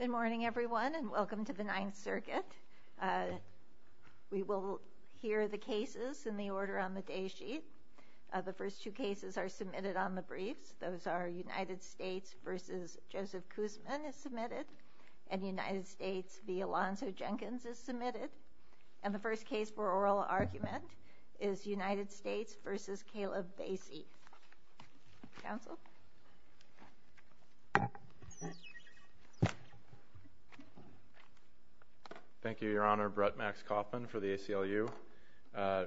Good morning everyone and welcome to the Ninth Circuit. We will hear the cases in the order on the day sheet. The first two cases are submitted on the briefs. Those are United States v. Joseph Kuzmin is submitted and United States v. Alonzo Jenkins is submitted. And the first case for oral argument is United States v. Kaleb Basey. Counsel? Thank you Your Honor. Brett Max Kauffman for the ACLU.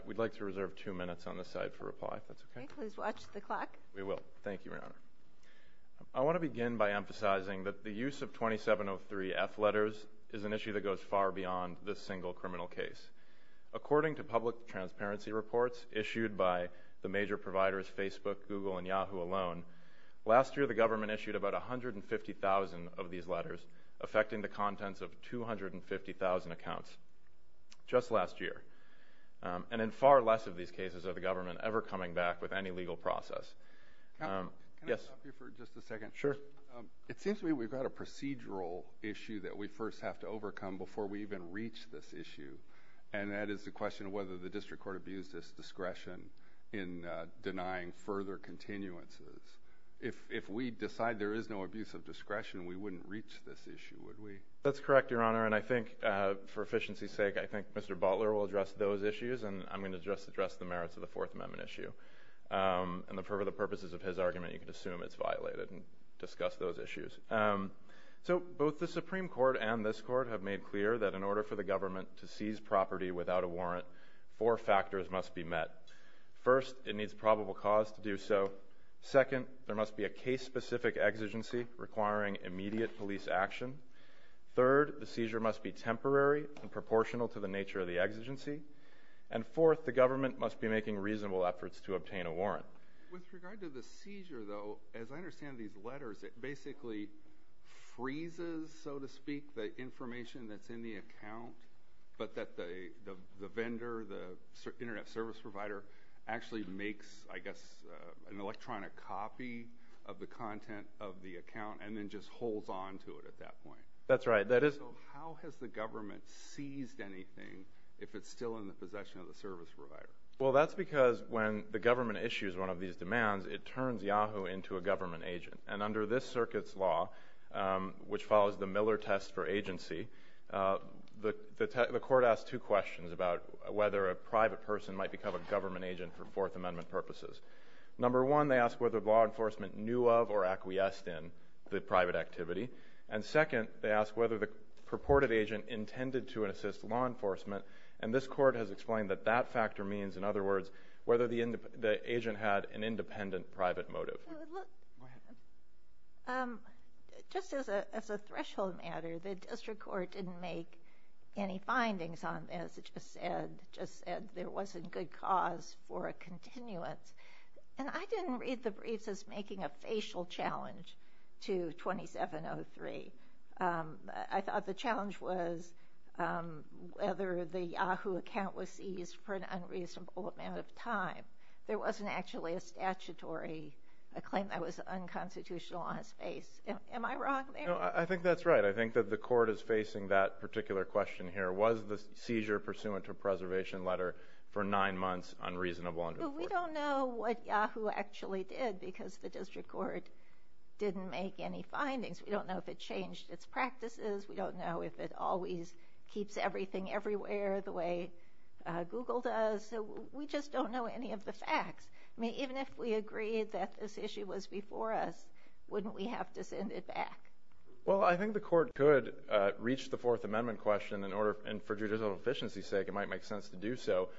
We'd like to reserve two minutes on this side for reply if that's okay. Please watch the clock. We will. Thank you Your Honor. I want to begin by emphasizing that the use of 2703 F letters is an issue that goes far beyond this single criminal case. According to public transparency reports issued by the major providers Facebook, Google, and Yahoo alone, last year the government issued about 150,000 of these letters, affecting the contents of 250,000 accounts just last year. And in far less of these cases are the government ever coming back with any legal process. It seems to me we've got a procedural issue that we first have to overcome before we even reach this issue. And that is the question of whether the district court abused its discretion in denying further continuances. If we decide there is no abuse of discretion, we wouldn't reach this issue, would we? That's correct, Your Honor. And I think for efficiency's sake I think Mr. Butler will address those issues and I'm going to just address the merits of the Fourth Amendment issue. And for the purposes of his argument you can assume it's violated and discuss those issues. So both the Supreme Court and this Court have made clear that in order for the government to seize property without a warrant, four factors must be met. First, it needs probable cause to do so. Second, there must be a case-specific exigency requiring immediate police action. Third, the seizure must be temporary and proportional to the nature of the exigency. And fourth, the government must be making reasonable efforts to obtain a warrant. With regard to the seizure, though, as I understand these letters, it freezes, so to speak, the information that's in the account, but that the vendor, the internet service provider, actually makes, I guess, an electronic copy of the content of the account and then just holds on to it at that point. That's right. That is... So how has the government seized anything if it's still in the possession of the service provider? Well, that's because when the government issues one of these demands, it turns Yahoo! into a government agent. And under this circuit's law, which follows the Miller test for agency, the court asked two questions about whether a private person might become a government agent for Fourth Amendment purposes. Number one, they asked whether law enforcement knew of or acquiesced in the private activity. And second, they asked whether the purported agent intended to assist law enforcement. And this Court has explained that that factor means, in other words, whether the agent had an independent private motive. Go ahead. Just as a threshold matter, the District Court didn't make any findings on this. It just said there wasn't good cause for a continuance. And I didn't read the briefs as making a facial challenge to 2703. I thought the challenge was whether the statutory claim that was unconstitutional on its face. Am I wrong there? No, I think that's right. I think that the court is facing that particular question here. Was the seizure pursuant to a preservation letter for nine months unreasonable under the court? We don't know what Yahoo! actually did because the District Court didn't make any findings. We don't know if it changed its practices. We don't know if it always keeps everything everywhere the way Google does. So we just don't know any of the facts. I mean, even if we agreed that this issue was before us, wouldn't we have to send it back? Well, I think the court could reach the Fourth Amendment question in order, and for judicial efficiency's sake, it might make sense to do so.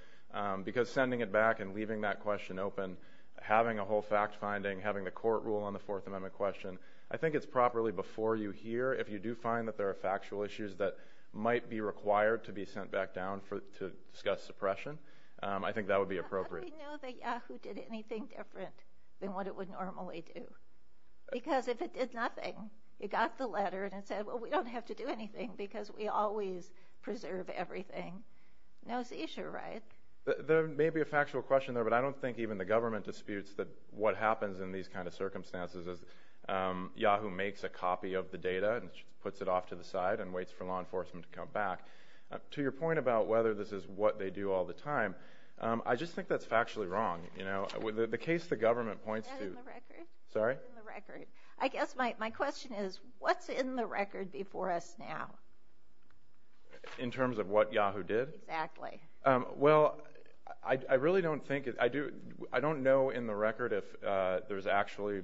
Because sending it back and leaving that question open, having a whole fact-finding, having the court rule on the Fourth Amendment question, I think it's properly before you here if you do find that there are factual issues that might be required to be sent back down to discuss suppression. I think that would be appropriate. How do we know that Yahoo! did anything different than what it would normally do? Because if it did nothing, it got the letter and it said, well, we don't have to do anything because we always preserve everything. No seizure, right? There may be a factual question there, but I don't think even the government disputes that what happens in these kind of circumstances is Yahoo! makes a copy of the data and puts it off to the side and waits for law enforcement to come back. To your point about whether this is what they do all the time, I just think that's factually wrong. The case the government points to... Is that in the record? Sorry? I guess my question is, what's in the record before us now? In terms of what Yahoo! did? Exactly. Well, I really don't think... I don't know in the record if there's actually,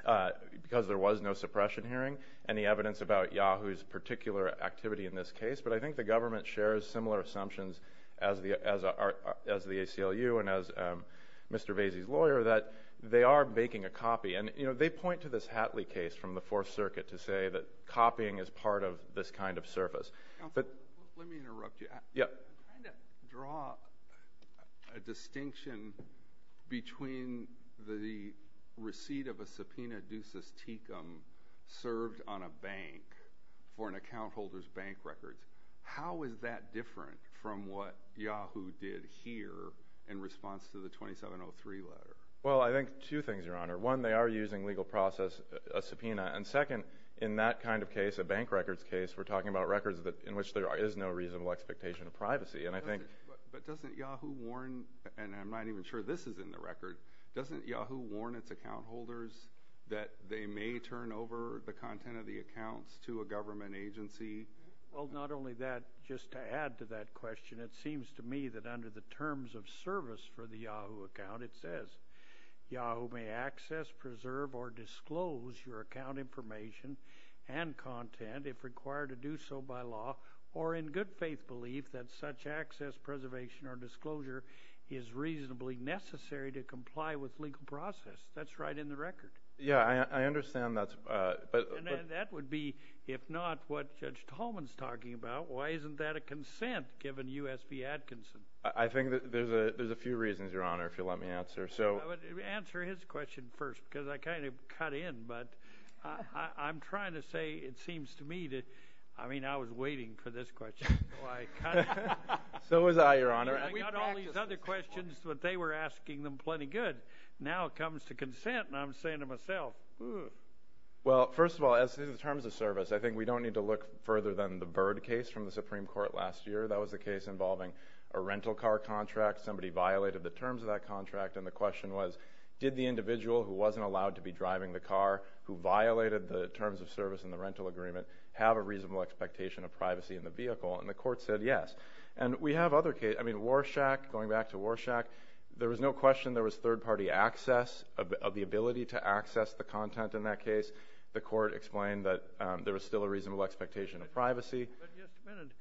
because there was no suppression hearing, any evidence about Yahoo!'s particular activity in this case, but I think the government shares similar assumptions as the ACLU and as Mr. Vasey's lawyer, that they are making a copy. And they point to this Hatley case from the Fourth Circuit to say that copying is part of this kind of service. Counsel, let me interrupt you. I'm trying to draw a distinction between the receipt of a subpoena, Ducis-Tecum, served on a bank for an account holder's bank records. How is that different from what Yahoo! did here in response to the 2703 letter? Well, I think two things, Your Honor. One, they are using legal process, a subpoena, and second, in that kind of case, a bank records case, we're talking about records in which there is no reasonable expectation of privacy, and I think... But doesn't Yahoo! warn, and I'm not even sure this is in the record, doesn't Yahoo! warn its account holders that they may turn over the content of the accounts to a government agency? Well, not only that, just to add to that question, it seems to me that under the terms of service for the Yahoo! account, it says, Yahoo! may access, preserve, or disclose your account information and content if required to do so by law, or in good faith belief that such access, preservation, or disclosure is reasonably necessary to comply with legal process. That's right in the record. Yeah, I understand that's... And that would be, if not, what Judge Tolman's talking about. Why isn't that a consent given U.S. v. Atkinson? I think that there's a few reasons, Your Honor, if you'll let me answer. I would answer his question first, because I kind of cut in, but I'm trying to say it seems to me that, I mean, I was waiting for this question. So was I, Your Honor. I got all these other questions, but they were asking them plenty good. Now it comes to consent, and I'm saying to myself, ooh. Well, first of all, as to the terms of service, I think we don't need to look further than the Byrd case from the Supreme Court last year. That was a case involving a rental car contract. Somebody violated the terms of that contract, and the question was, did the individual who wasn't allowed to be driving the car, who violated the terms of service in the rental agreement, have a reasonable expectation of privacy in the vehicle? And the court said yes. And we have other cases. I mean, Warshack, going back to Warshack, there was no question there was third-party access, the ability to access the content in that case. The court explained that there was still a reasonable expectation of privacy. But just a minute.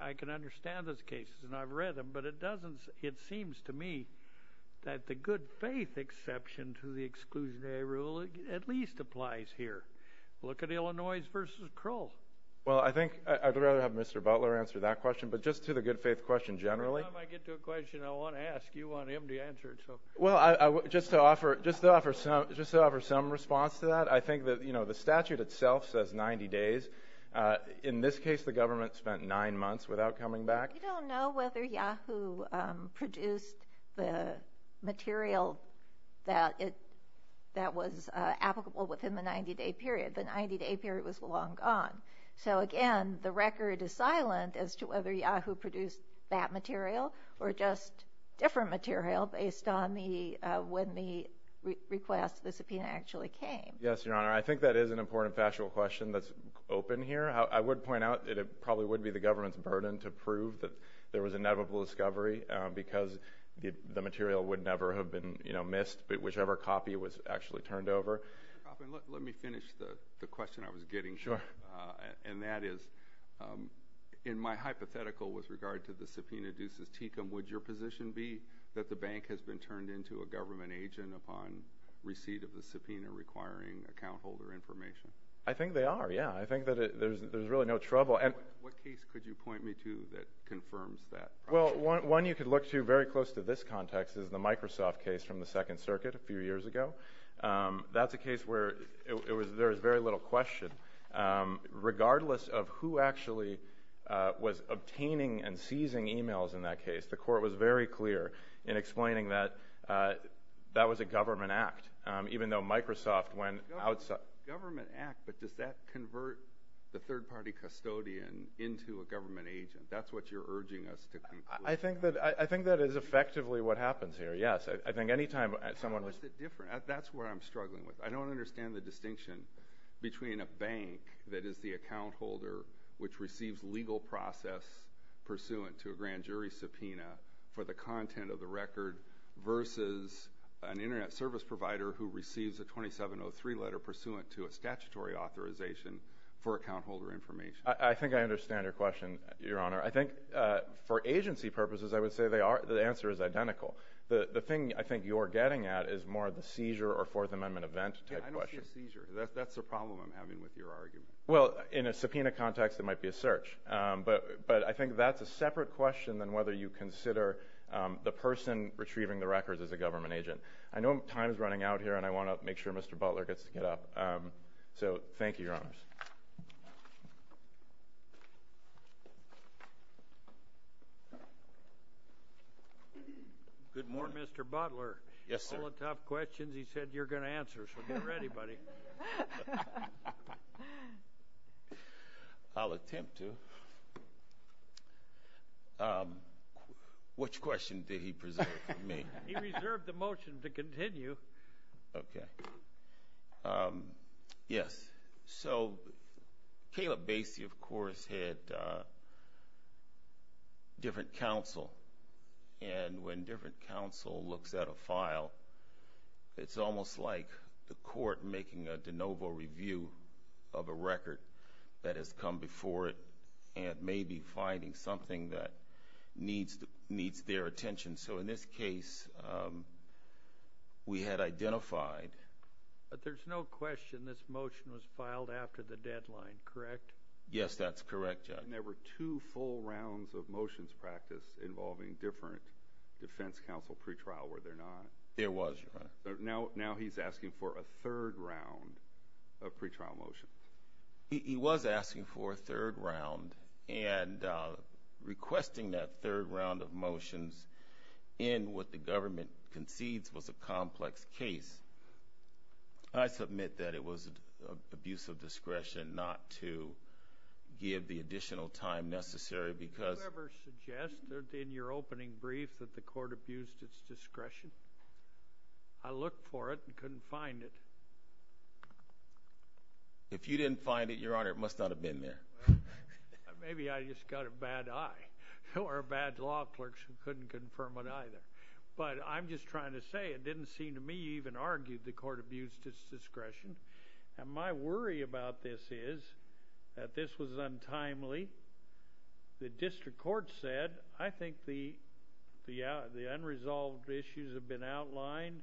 I can understand those cases, and I've read them, but it doesn't – it seems to me that the good-faith exception to the exclusionary rule at least applies here. Look at Illinois v. Krull. Well, I think – I'd rather have Mr. Butler answer that question, but just to the good-faith question generally. Every time I get to a question, I want to ask. You want him to answer it. Well, just to offer some response to that, I think that, you know, the statute itself says 90 days. In this case, the government spent nine months without coming back. We don't know whether Yahoo produced the material that it – that was applicable within the 90-day period. The 90-day period was long gone. So again, the record is silent as to whether Yahoo produced that material or just different material based on the – when the request, the subpoena actually came. Yes, Your Honor. I think that is an important factual question that's open here. I would point out that it probably would be the government's burden to prove that there was an inevitable discovery because the material would never have been, you know, missed, whichever copy was actually turned over. Let me finish the question I was getting. Sure. And that is, in my hypothetical with regard to the subpoena ducis tecum, would your position be that the bank has been turned into a government agent upon receipt of the subpoena requiring account holder information? I think they are, yeah. I think that there's really no trouble. What case could you point me to that confirms that? Well, one you could look to very close to this context is the Microsoft case from the Second Circuit a few years ago. That's a case where it was – there was very little question. Regardless of who actually was obtaining and seizing emails in that case, the court was very clear in explaining that that was a government act, even though Microsoft went outside – Government act, but does that convert the third-party custodian into a government agent? That's what you're urging us to conclude. I think that is effectively what happens here, yes. I think anytime someone – How is it different? That's what I'm struggling with. I don't understand the distinction between a bank that is the account holder which receives legal process pursuant to a grand jury subpoena for the content of the record versus an internet service provider who receives a 2703 letter pursuant to a statutory authorization for account holder information. I think I understand your question, Your Honor. I think for agency purposes, I would say they are – the answer is identical. The thing I think you're getting at is more the seizure or Fourth Amendment event type question. Yeah, I don't see a seizure. That's the problem I'm having with your argument. Well, in a subpoena context, it might be a search. But I think that's a separate question than whether you consider the person retrieving the records as a government agent. I know time is running out here, and I want to make sure Mr. Butler gets to get up. So thank you, Your Honors. Good morning. Good morning, Mr. Butler. Yes, sir. All the tough questions he said you're going to answer, so get ready, buddy. I'll attempt to. Which question did he preserve for me? He reserved the motion to continue. Okay. Yes. So Caleb Basie, of course, had different counsel, and when different counsel looks at a file, it's almost like the court making a de novo review of a record that has come before it and maybe finding something that needs their attention. So in this case, we had identified – But there's no question this motion was filed after the deadline, correct? Yes, that's correct, Judge. And there were two full rounds of motions practiced involving different defense counsel pre-trial, were there not? There was, Your Honor. Now he's asking for a third round of pre-trial motions. He was asking for a third round, and requesting that third round of motions in what the government concedes was a complex case. I submit that it was abuse of discretion not to give the additional time necessary because – Did you ever suggest in your opening brief that the court abused its discretion? I looked for it and couldn't find it. If you didn't find it, Your Honor, it must not have been there. Maybe I just got a bad eye. There were bad law clerks who couldn't confirm it either. But I'm just trying to say it didn't seem to me you even argued the court abused its discretion. And my worry about this is that this was untimely. The district court said, I think the unresolved issues have been outlined.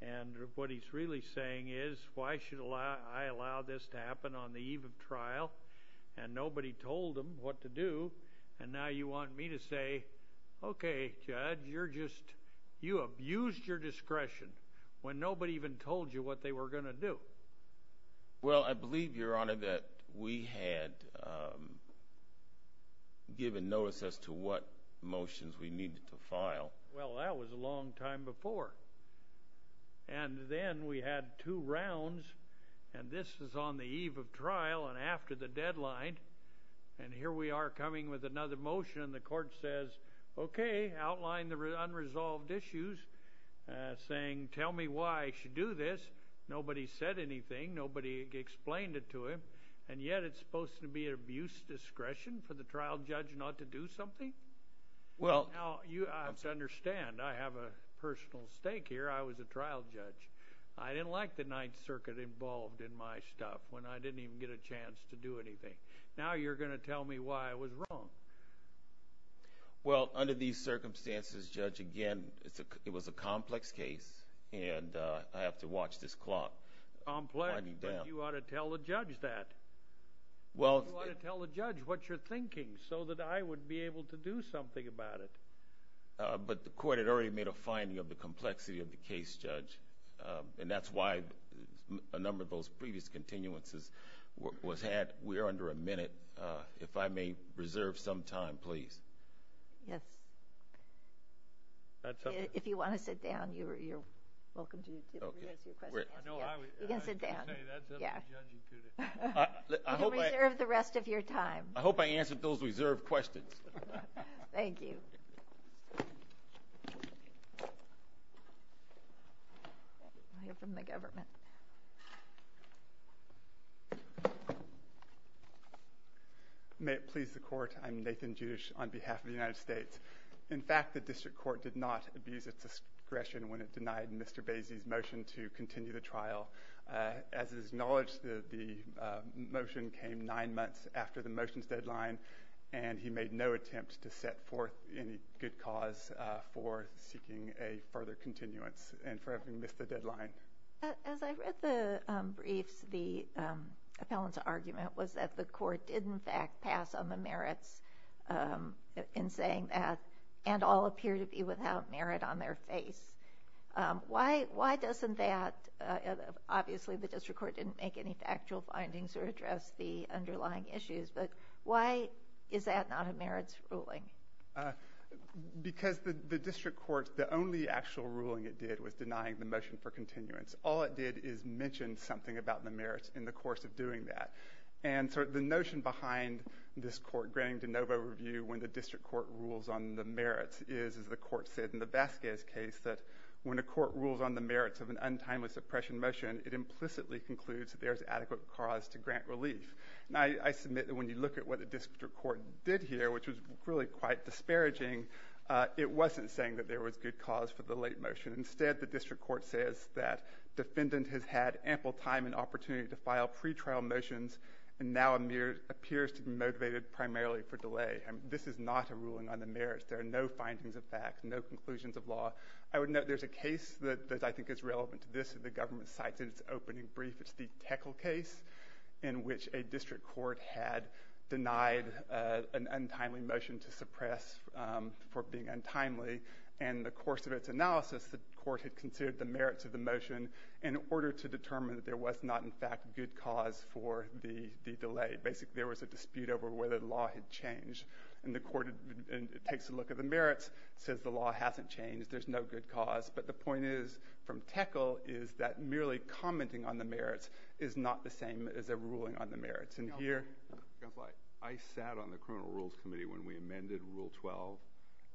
And what he's really saying is, why should I allow this to happen on the eve of trial? And nobody told him what to do. And now you want me to say, okay, Judge, you abused your discretion when nobody even told you what they were going to do. Well, I believe, Your Honor, that we had given notice as to what motions we needed to file. Well, that was a long time before. And then we had two rounds, and this was on the eve of trial and after the deadline. And here we are coming with another motion, and the court says, okay, outline the unresolved issues, saying, tell me why I should do this. Nobody said anything. Nobody explained it to him. And yet it's supposed to be an abuse of discretion for the trial judge not to do something? Now, you have to understand, I have a personal stake here. I was a trial judge. I didn't like the Ninth Circuit involved in my stuff when I didn't even get a chance to do anything. Now you're going to tell me why I was wrong. Well, under these circumstances, Judge, again, it was a complex case, and I have to watch this clock. Complex? But you ought to tell the judge that. You ought to tell the judge what you're thinking so that I would be able to do something about it. But the court had already made a finding of the complexity of the case, Judge, and that's why a number of those previous continuances was had. We are under a minute. If I may reserve some time, please. Yes. If you want to sit down, you're welcome to answer your questions. You can sit down. No, that's up to the judge. You can reserve the rest of your time. I hope I answered those reserved questions. Thank you. I'll hear from the government. May it please the court, I'm Nathan Judish on behalf of the United States. In fact, the district court did not abuse its discretion when it denied Mr. Basie's motion to continue the trial. As it is acknowledged, the motion came nine months after the motion's deadline, and he made no attempt to set forth any good cause for seeking a further continuance and for having missed the deadline. As I read the briefs, the appellant's argument was that the court did, in fact, pass on the merits in saying that, and all appear to be without merit on their face. Why doesn't that? Obviously, the district court didn't make any factual findings or address the underlying issues, but why is that not a merits ruling? Because the district court, the only actual ruling it did was denying the motion for continuance. All it did is mention something about the merits in the course of doing that. And so the notion behind this court granting de novo review when the district court rules on the merits is, as the court said in the Vasquez case, that when a court rules on the merits of an untimely suppression motion, it implicitly concludes that there is adequate cause to grant relief. Now, I submit that when you look at what the district court did here, which was really quite disparaging, it wasn't saying that there was good cause for the late motion. Instead, the district court says that pre-trial motions now appears to be motivated primarily for delay. This is not a ruling on the merits. There are no findings of fact, no conclusions of law. I would note there's a case that I think is relevant to this that the government cites in its opening brief. It's the Teckle case, in which a district court had denied an untimely motion to suppress for being untimely. the court had considered the merits of the motion in order to determine that there was not, in fact, good cause for the delay. Basically, there was a dispute over whether the law had changed. And the court takes a look at the merits, says the law hasn't changed, there's no good cause. But the point is, from Teckle, is that merely commenting on the merits is not the same as a ruling on the merits. I sat on the criminal rules committee when we amended Rule 12,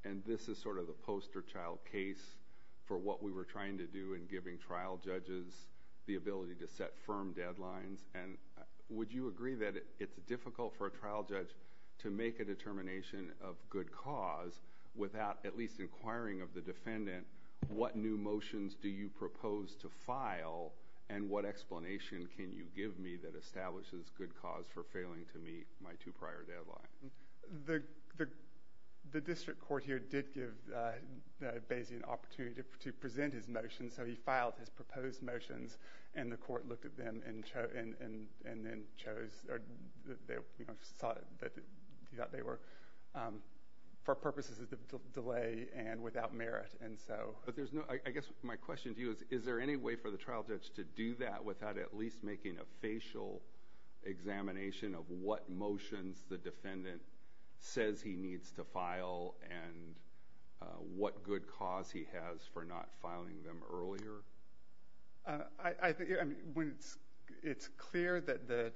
and this is sort of the poster child case for what we were trying to do in giving trial judges the ability to set firm deadlines. Would you agree that it's difficult for a trial judge to make a determination of good cause without at least inquiring of the defendant what new motions do you propose to file and what explanation can you give me that establishes good cause for failing to meet my two prior deadlines? The district court here did give Basie an opportunity to present his motions, so he filed his proposed motions, and the court looked at them and then chose... or, you know, thought that they were... for purposes of delay and without merit, and so... But there's no... I guess my question to you is, is there any way for the trial judge to do that without at least making a facial examination of what motions the defendant says he needs to file and what good cause he has for not filing them earlier? I think... I mean, when it's clear that the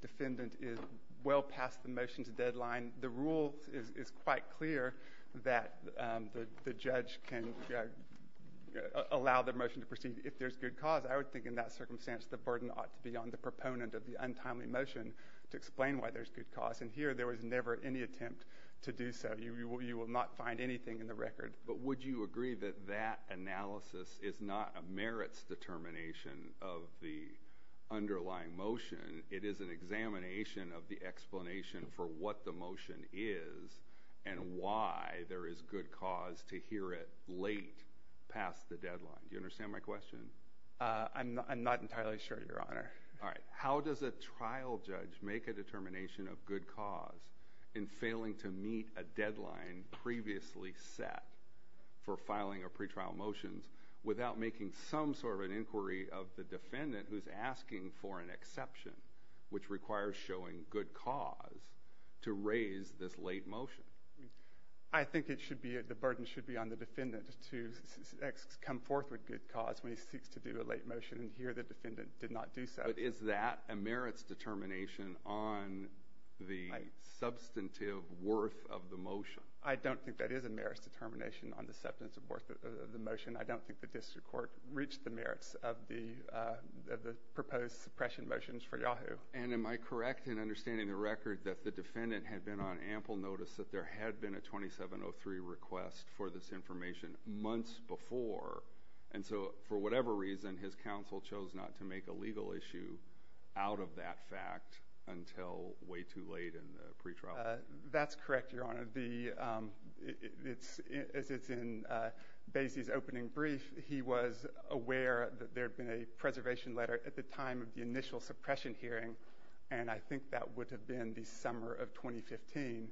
defendant is well past the motion's deadline, the rule is quite clear that the judge can allow the motion to proceed if there's good cause. I would think, in that circumstance, the burden ought to be on the proponent of the untimely motion to explain why there's good cause, and here there was never any attempt to do so. You will not find anything in the record. But would you agree that that analysis is not a merits determination of the underlying motion? It is an examination of the explanation for what the motion is and why there is good cause to hear it late, past the deadline. Do you understand my question? I'm not entirely sure, Your Honor. All right. How does a trial judge make a determination of good cause in failing to meet a deadline previously set for filing of pretrial motions without making some sort of an inquiry of the defendant who's asking for an exception, which requires showing good cause, to raise this late motion? I think it should be... the burden should be on the defendant to come forth with good cause when he seeks to do a late motion, and here the defendant did not do so. But is that a merits determination on the substantive worth of the motion? I don't think that is a merits determination on the substantive worth of the motion. I don't think the district court reached the merits of the proposed suppression motions for Yahoo. And am I correct in understanding the record that the defendant had been on ample notice that there had been a 2703 request for this information months before, and so for whatever reason, his counsel chose not to make a legal issue out of that fact until way too late in the pretrial? That's correct, Your Honor. The, um... As it's in Basie's opening brief, he was aware that there had been a preservation letter at the time of the initial suppression hearing, and I think that would have been the summer of 2015.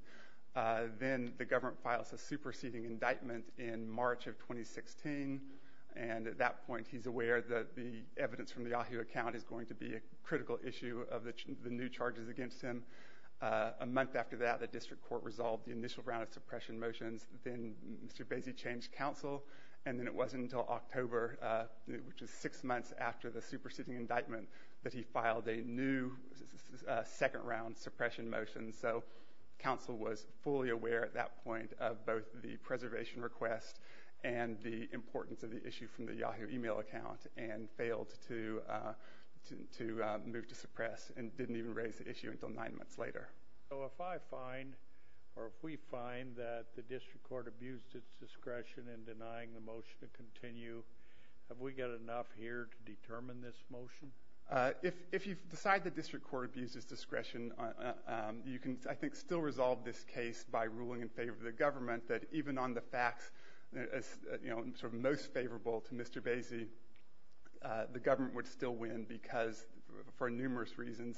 Then the government files a superseding indictment in March of 2016, and at that point, he's aware that the evidence from the Yahoo account is going to be a critical issue of the new charges against him. A month after that, the district court resolved the initial round of suppression motions. Then Mr. Basie changed counsel, and then it wasn't until October, which is six months after the superseding indictment, that he filed a new second round suppression motion. So counsel was fully aware at that point of both the preservation request and the importance of the issue from the Yahoo email account and failed to move to suppress and didn't even raise the issue until nine months later. So if I find, or if we find, that the district court abused its discretion in denying the motion to continue, have we got enough here to determine this motion? If you decide the district court abused its discretion, you can, I think, still resolve this case by ruling in favor of the government that even on the facts, as, you know, sort of most favorable to Mr. Basie, the government would still win because, for numerous reasons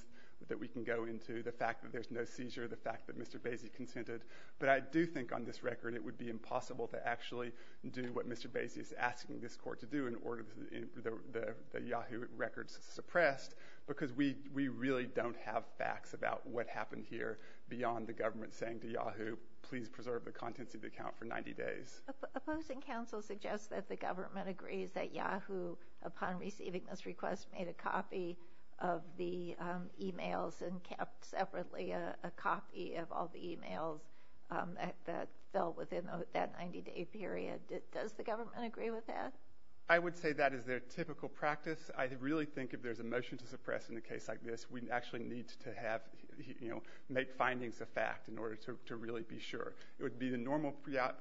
that we can go into, the fact that there's no seizure, the fact that Mr. Basie consented. But I do think on this record it would be impossible to actually do what Mr. Basie is asking this court to do in order to get the Yahoo records suppressed, because we really don't have facts about what happened here beyond the government saying to Yahoo, please preserve the contents of the account for 90 days. Opposing counsel suggests that the government agrees that Yahoo, upon receiving this request, made a copy of the emails and kept separately a copy of all the emails that fell within that 90-day period. Does the government agree with that? I would say that is their typical practice. I really think if there's a motion to suppress in a case like this, we actually need to have, you know, make findings of fact in order to really be sure. It would be the normal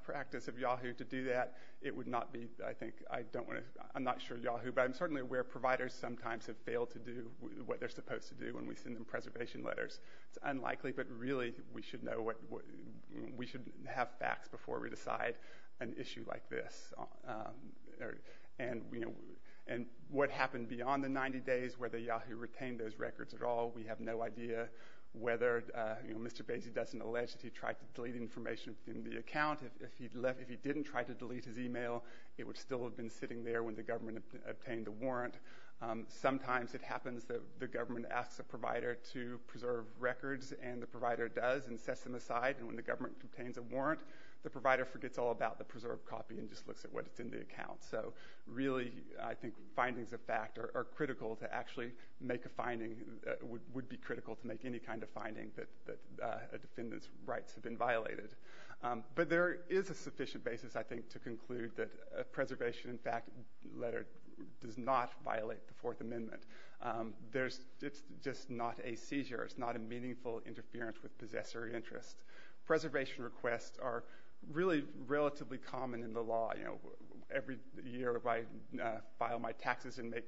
practice of Yahoo to do that. It would not be, I think, I don't want to... I'm not sure of Yahoo, but I'm certainly aware providers sometimes have failed to do what they're supposed to do when we send them preservation letters. It's unlikely, but really we should know what... we should have facts before we decide an issue like this. And, you know, what happened beyond the 90 days, whether Yahoo retained those records at all, we have no idea. Whether, you know, Mr. Basie doesn't allege that he tried to delete information within the account. If he didn't try to delete his email, it would still have been sitting there when the government obtained the warrant. Sometimes it happens that the government asks a provider to preserve records and the provider does and sets them aside. And when the government obtains a warrant, the provider forgets all about the preserved copy and just looks at what's in the account. So really, I think, findings of fact are critical to actually make a finding... would be critical to make any kind of finding that a defendant's rights have been violated. But there is a sufficient basis, I think, to conclude that a preservation fact letter does not violate the Fourth Amendment. There's... it's just not a seizure. It's not a meaningful interference with possessory interest. Preservation requests are really relatively common in the law, you know. Every year, if I file my taxes and make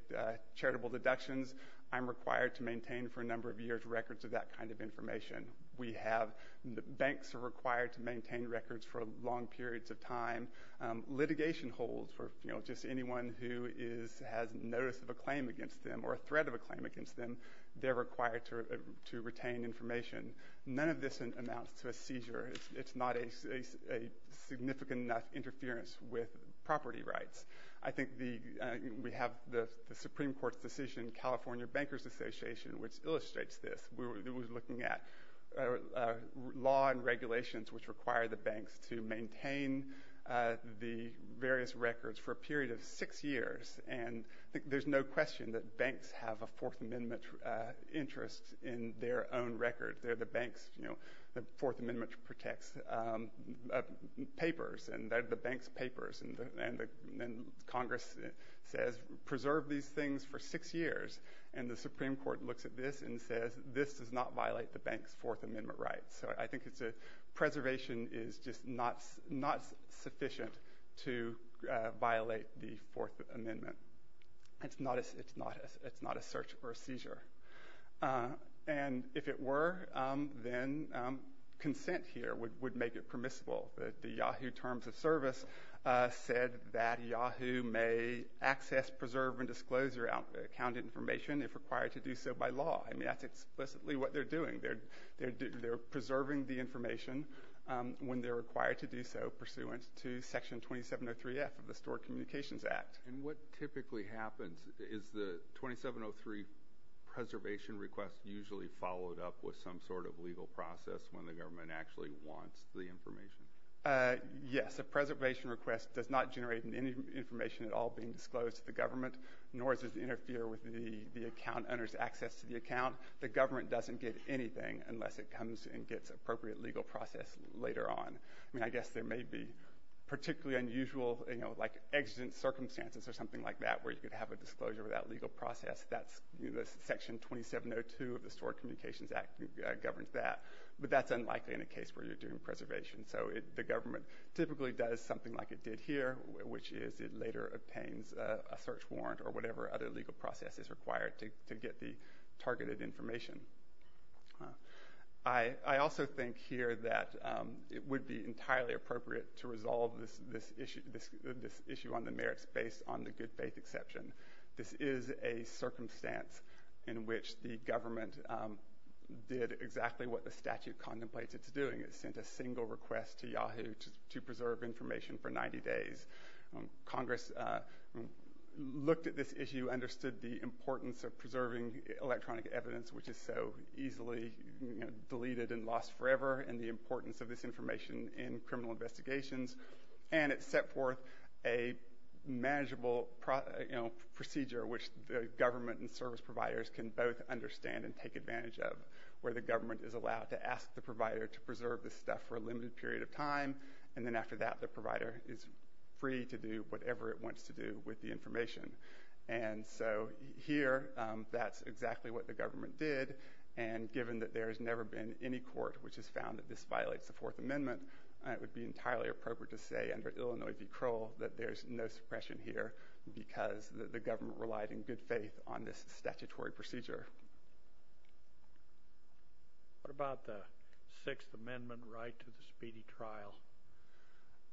charitable deductions, I'm required to maintain for a number of years records of that kind of information. We have... banks are required to maintain records for long periods of time. Litigation holds for, you know, just anyone who is... has notice of a claim against them or a threat of a claim against them. They're required to retain information. None of this amounts to a seizure. It's not a significant enough interference with property rights. I think the... we have the Supreme Court's decision, California Bankers Association, which illustrates this. It was looking at law and regulations which require the banks to maintain the various records for a period of six years. And I think there's no question that banks have a Fourth Amendment interest in their own records. They're the bank's, you know, the Fourth Amendment protects papers, and they're the bank's papers. And Congress says, preserve these things for six years. And the Supreme Court looks at this and says, this does not violate the bank's Fourth Amendment rights. So I think it's a... preservation is just not sufficient It's not a... it's not a search or a seizure. And if it were, then consent here would make it permissible. The Yahoo! Terms of Service said that Yahoo! may access, preserve, and disclose your account information if required to do so by law. I mean, that's explicitly what they're doing. They're preserving the information when they're required to do so pursuant to Section 2703F of the Stored Communications Act. And what typically happens is the 2703 preservation request usually followed up with some sort of legal process when the government actually wants the information. Yes, a preservation request does not generate any information at all being disclosed to the government, nor does it interfere with the account owner's access to the account. The government doesn't get anything unless it comes and gets appropriate legal process later on. I mean, I guess there may be particularly unusual, you know, like exigent circumstances or something like that where you could have a disclosure of that legal process. Section 2702 of the Stored Communications Act governs that. But that's unlikely in a case where you're doing preservation. So the government typically does something like it did here, which is it later obtains a search warrant or whatever other legal process is required to get the targeted information. I also think here that it would be entirely appropriate to resolve this issue on the merits based on the good faith exception. This is a circumstance in which the government did exactly what the statute contemplates it's doing. It sent a single request to Yahoo to preserve information for 90 days. Congress looked at this issue, understood the importance of preserving electronic evidence which is so easily deleted and lost forever, and the importance of this information in criminal investigations, and it set forth a manageable procedure which the government and service providers can both understand and take advantage of, where the government is allowed to ask the provider to preserve this stuff for a limited period of time and then after that the provider is free to do whatever it wants to do with the information. And so here, that's exactly what the government did, and given that there's never been any court which has found that this violates the 4th Amendment, it would be entirely appropriate to say under Illinois v. Kroll that there's no suppression here because the government relied in good faith on this statutory procedure. What about the 6th Amendment right to the speedy trial?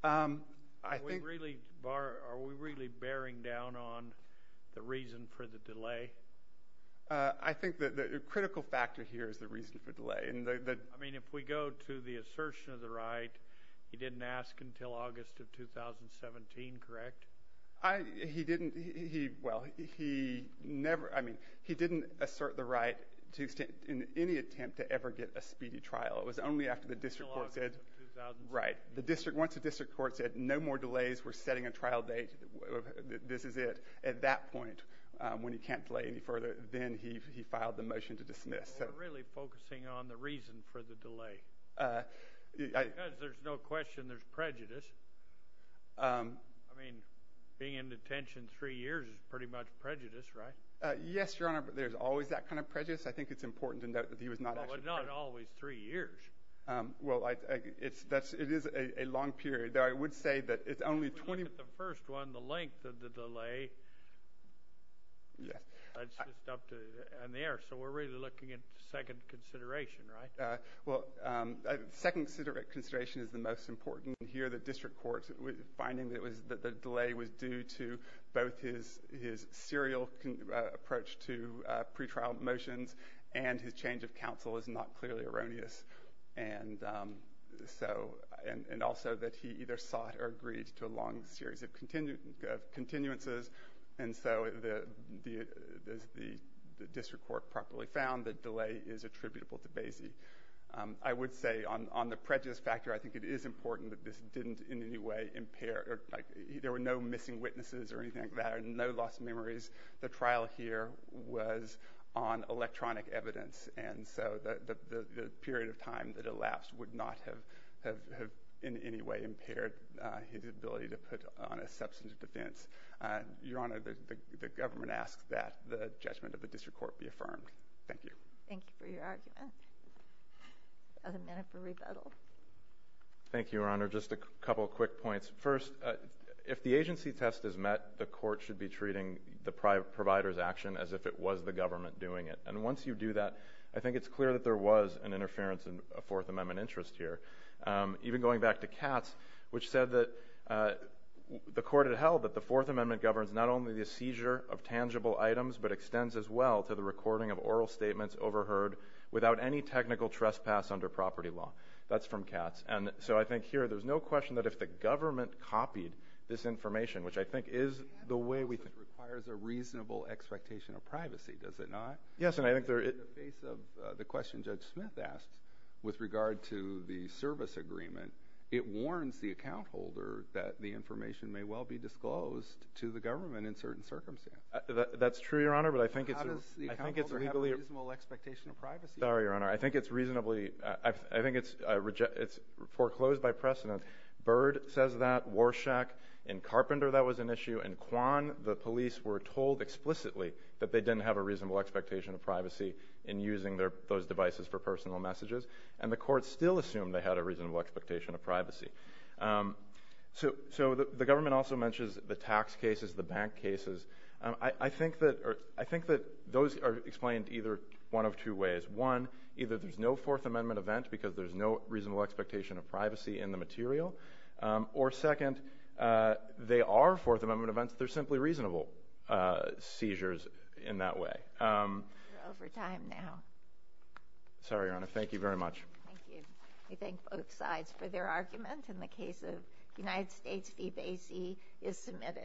Are we really bearing down on the reason for the delay? I think the critical factor here is the reason for delay. I mean, if we go to the assertion of the right, he didn't ask until August of 2017, correct? He didn't, well, he never, I mean, he didn't assert the right in any attempt to ever get a speedy trial. It was only after the district court said, once the district court said no more delays, we're setting a trial date, this is it. At that point, when he can't delay any further, then he filed the motion to dismiss. We're really focusing on the reason for the delay. Because there's no question there's prejudice. I mean, being in detention three years is pretty much prejudice, right? Yes, Your Honor, but there's always that kind of prejudice. I think it's important to note that he was not actually prejudiced. But not always three years. Well, it's a long period. Though I would say that it's only 20... The first one, the length of the delay, that's just up to... in the air. So we're really looking at second consideration, right? Well, second consideration is the most important. Here, the district court finding that the delay was due to both his serial approach to pretrial motions and his change of counsel is not clearly erroneous. And so... And also that he either sought or agreed to a long series of continuances. And so the district court properly found that delay is attributable to Basie. I would say, on the prejudice factor, I think it is important that this didn't in any way impair... There were no missing witnesses or anything like that. No lost memories. The trial here was on electronic evidence. And so the period of time that elapsed would not have in any way impaired his ability to put on a substantive defense. Your Honor, the government asks that the judgment of the district court be affirmed. Thank you. Thank you for your argument. I have a minute for rebuttal. Thank you, Your Honor. Just a couple quick points. First, if the agency test is met, the court should be treating the provider's action as if it was the government doing it. And once you do that, I think it's clear that there was an interference in a Fourth Amendment interest here. Even going back to Katz, which said that the court had held that the Fourth Amendment governs not only the seizure of tangible items, but extends as well to the recording of oral statements overheard without any technical trespass under property law. That's from Katz. And so I think here, there's no question that if the government copied this information, which I think is the way... It requires a reasonable expectation of privacy, does it not? In the face of the question Judge Smith asked with regard to the service agreement, it warns the account holder that the information may well be disclosed to the government in certain circumstances. That's true, Your Honor, but I think it's... How does the account holder have a reasonable expectation of privacy? Sorry, Your Honor. I think it's reasonably... I think it's foreclosed by precedent. Byrd says that, Warshak, and Carpenter that was an issue, and Kwan, the that they didn't have a reasonable expectation of privacy in using those devices for personal messages, and the court still assumed they had a reasonable expectation of privacy. So the government also mentions the tax cases, the bank cases. I think that those are explained either one of two ways. One, either there's no Fourth Amendment event because there's no reasonable expectation of privacy in the material, or second, they are Fourth Amendment events. They're simply reasonable seizures in that way. We're over time now. Sorry, Your Honor. Thank you very much. Thank you. We thank both sides for their argument in the case of United States v. Basie is submitted.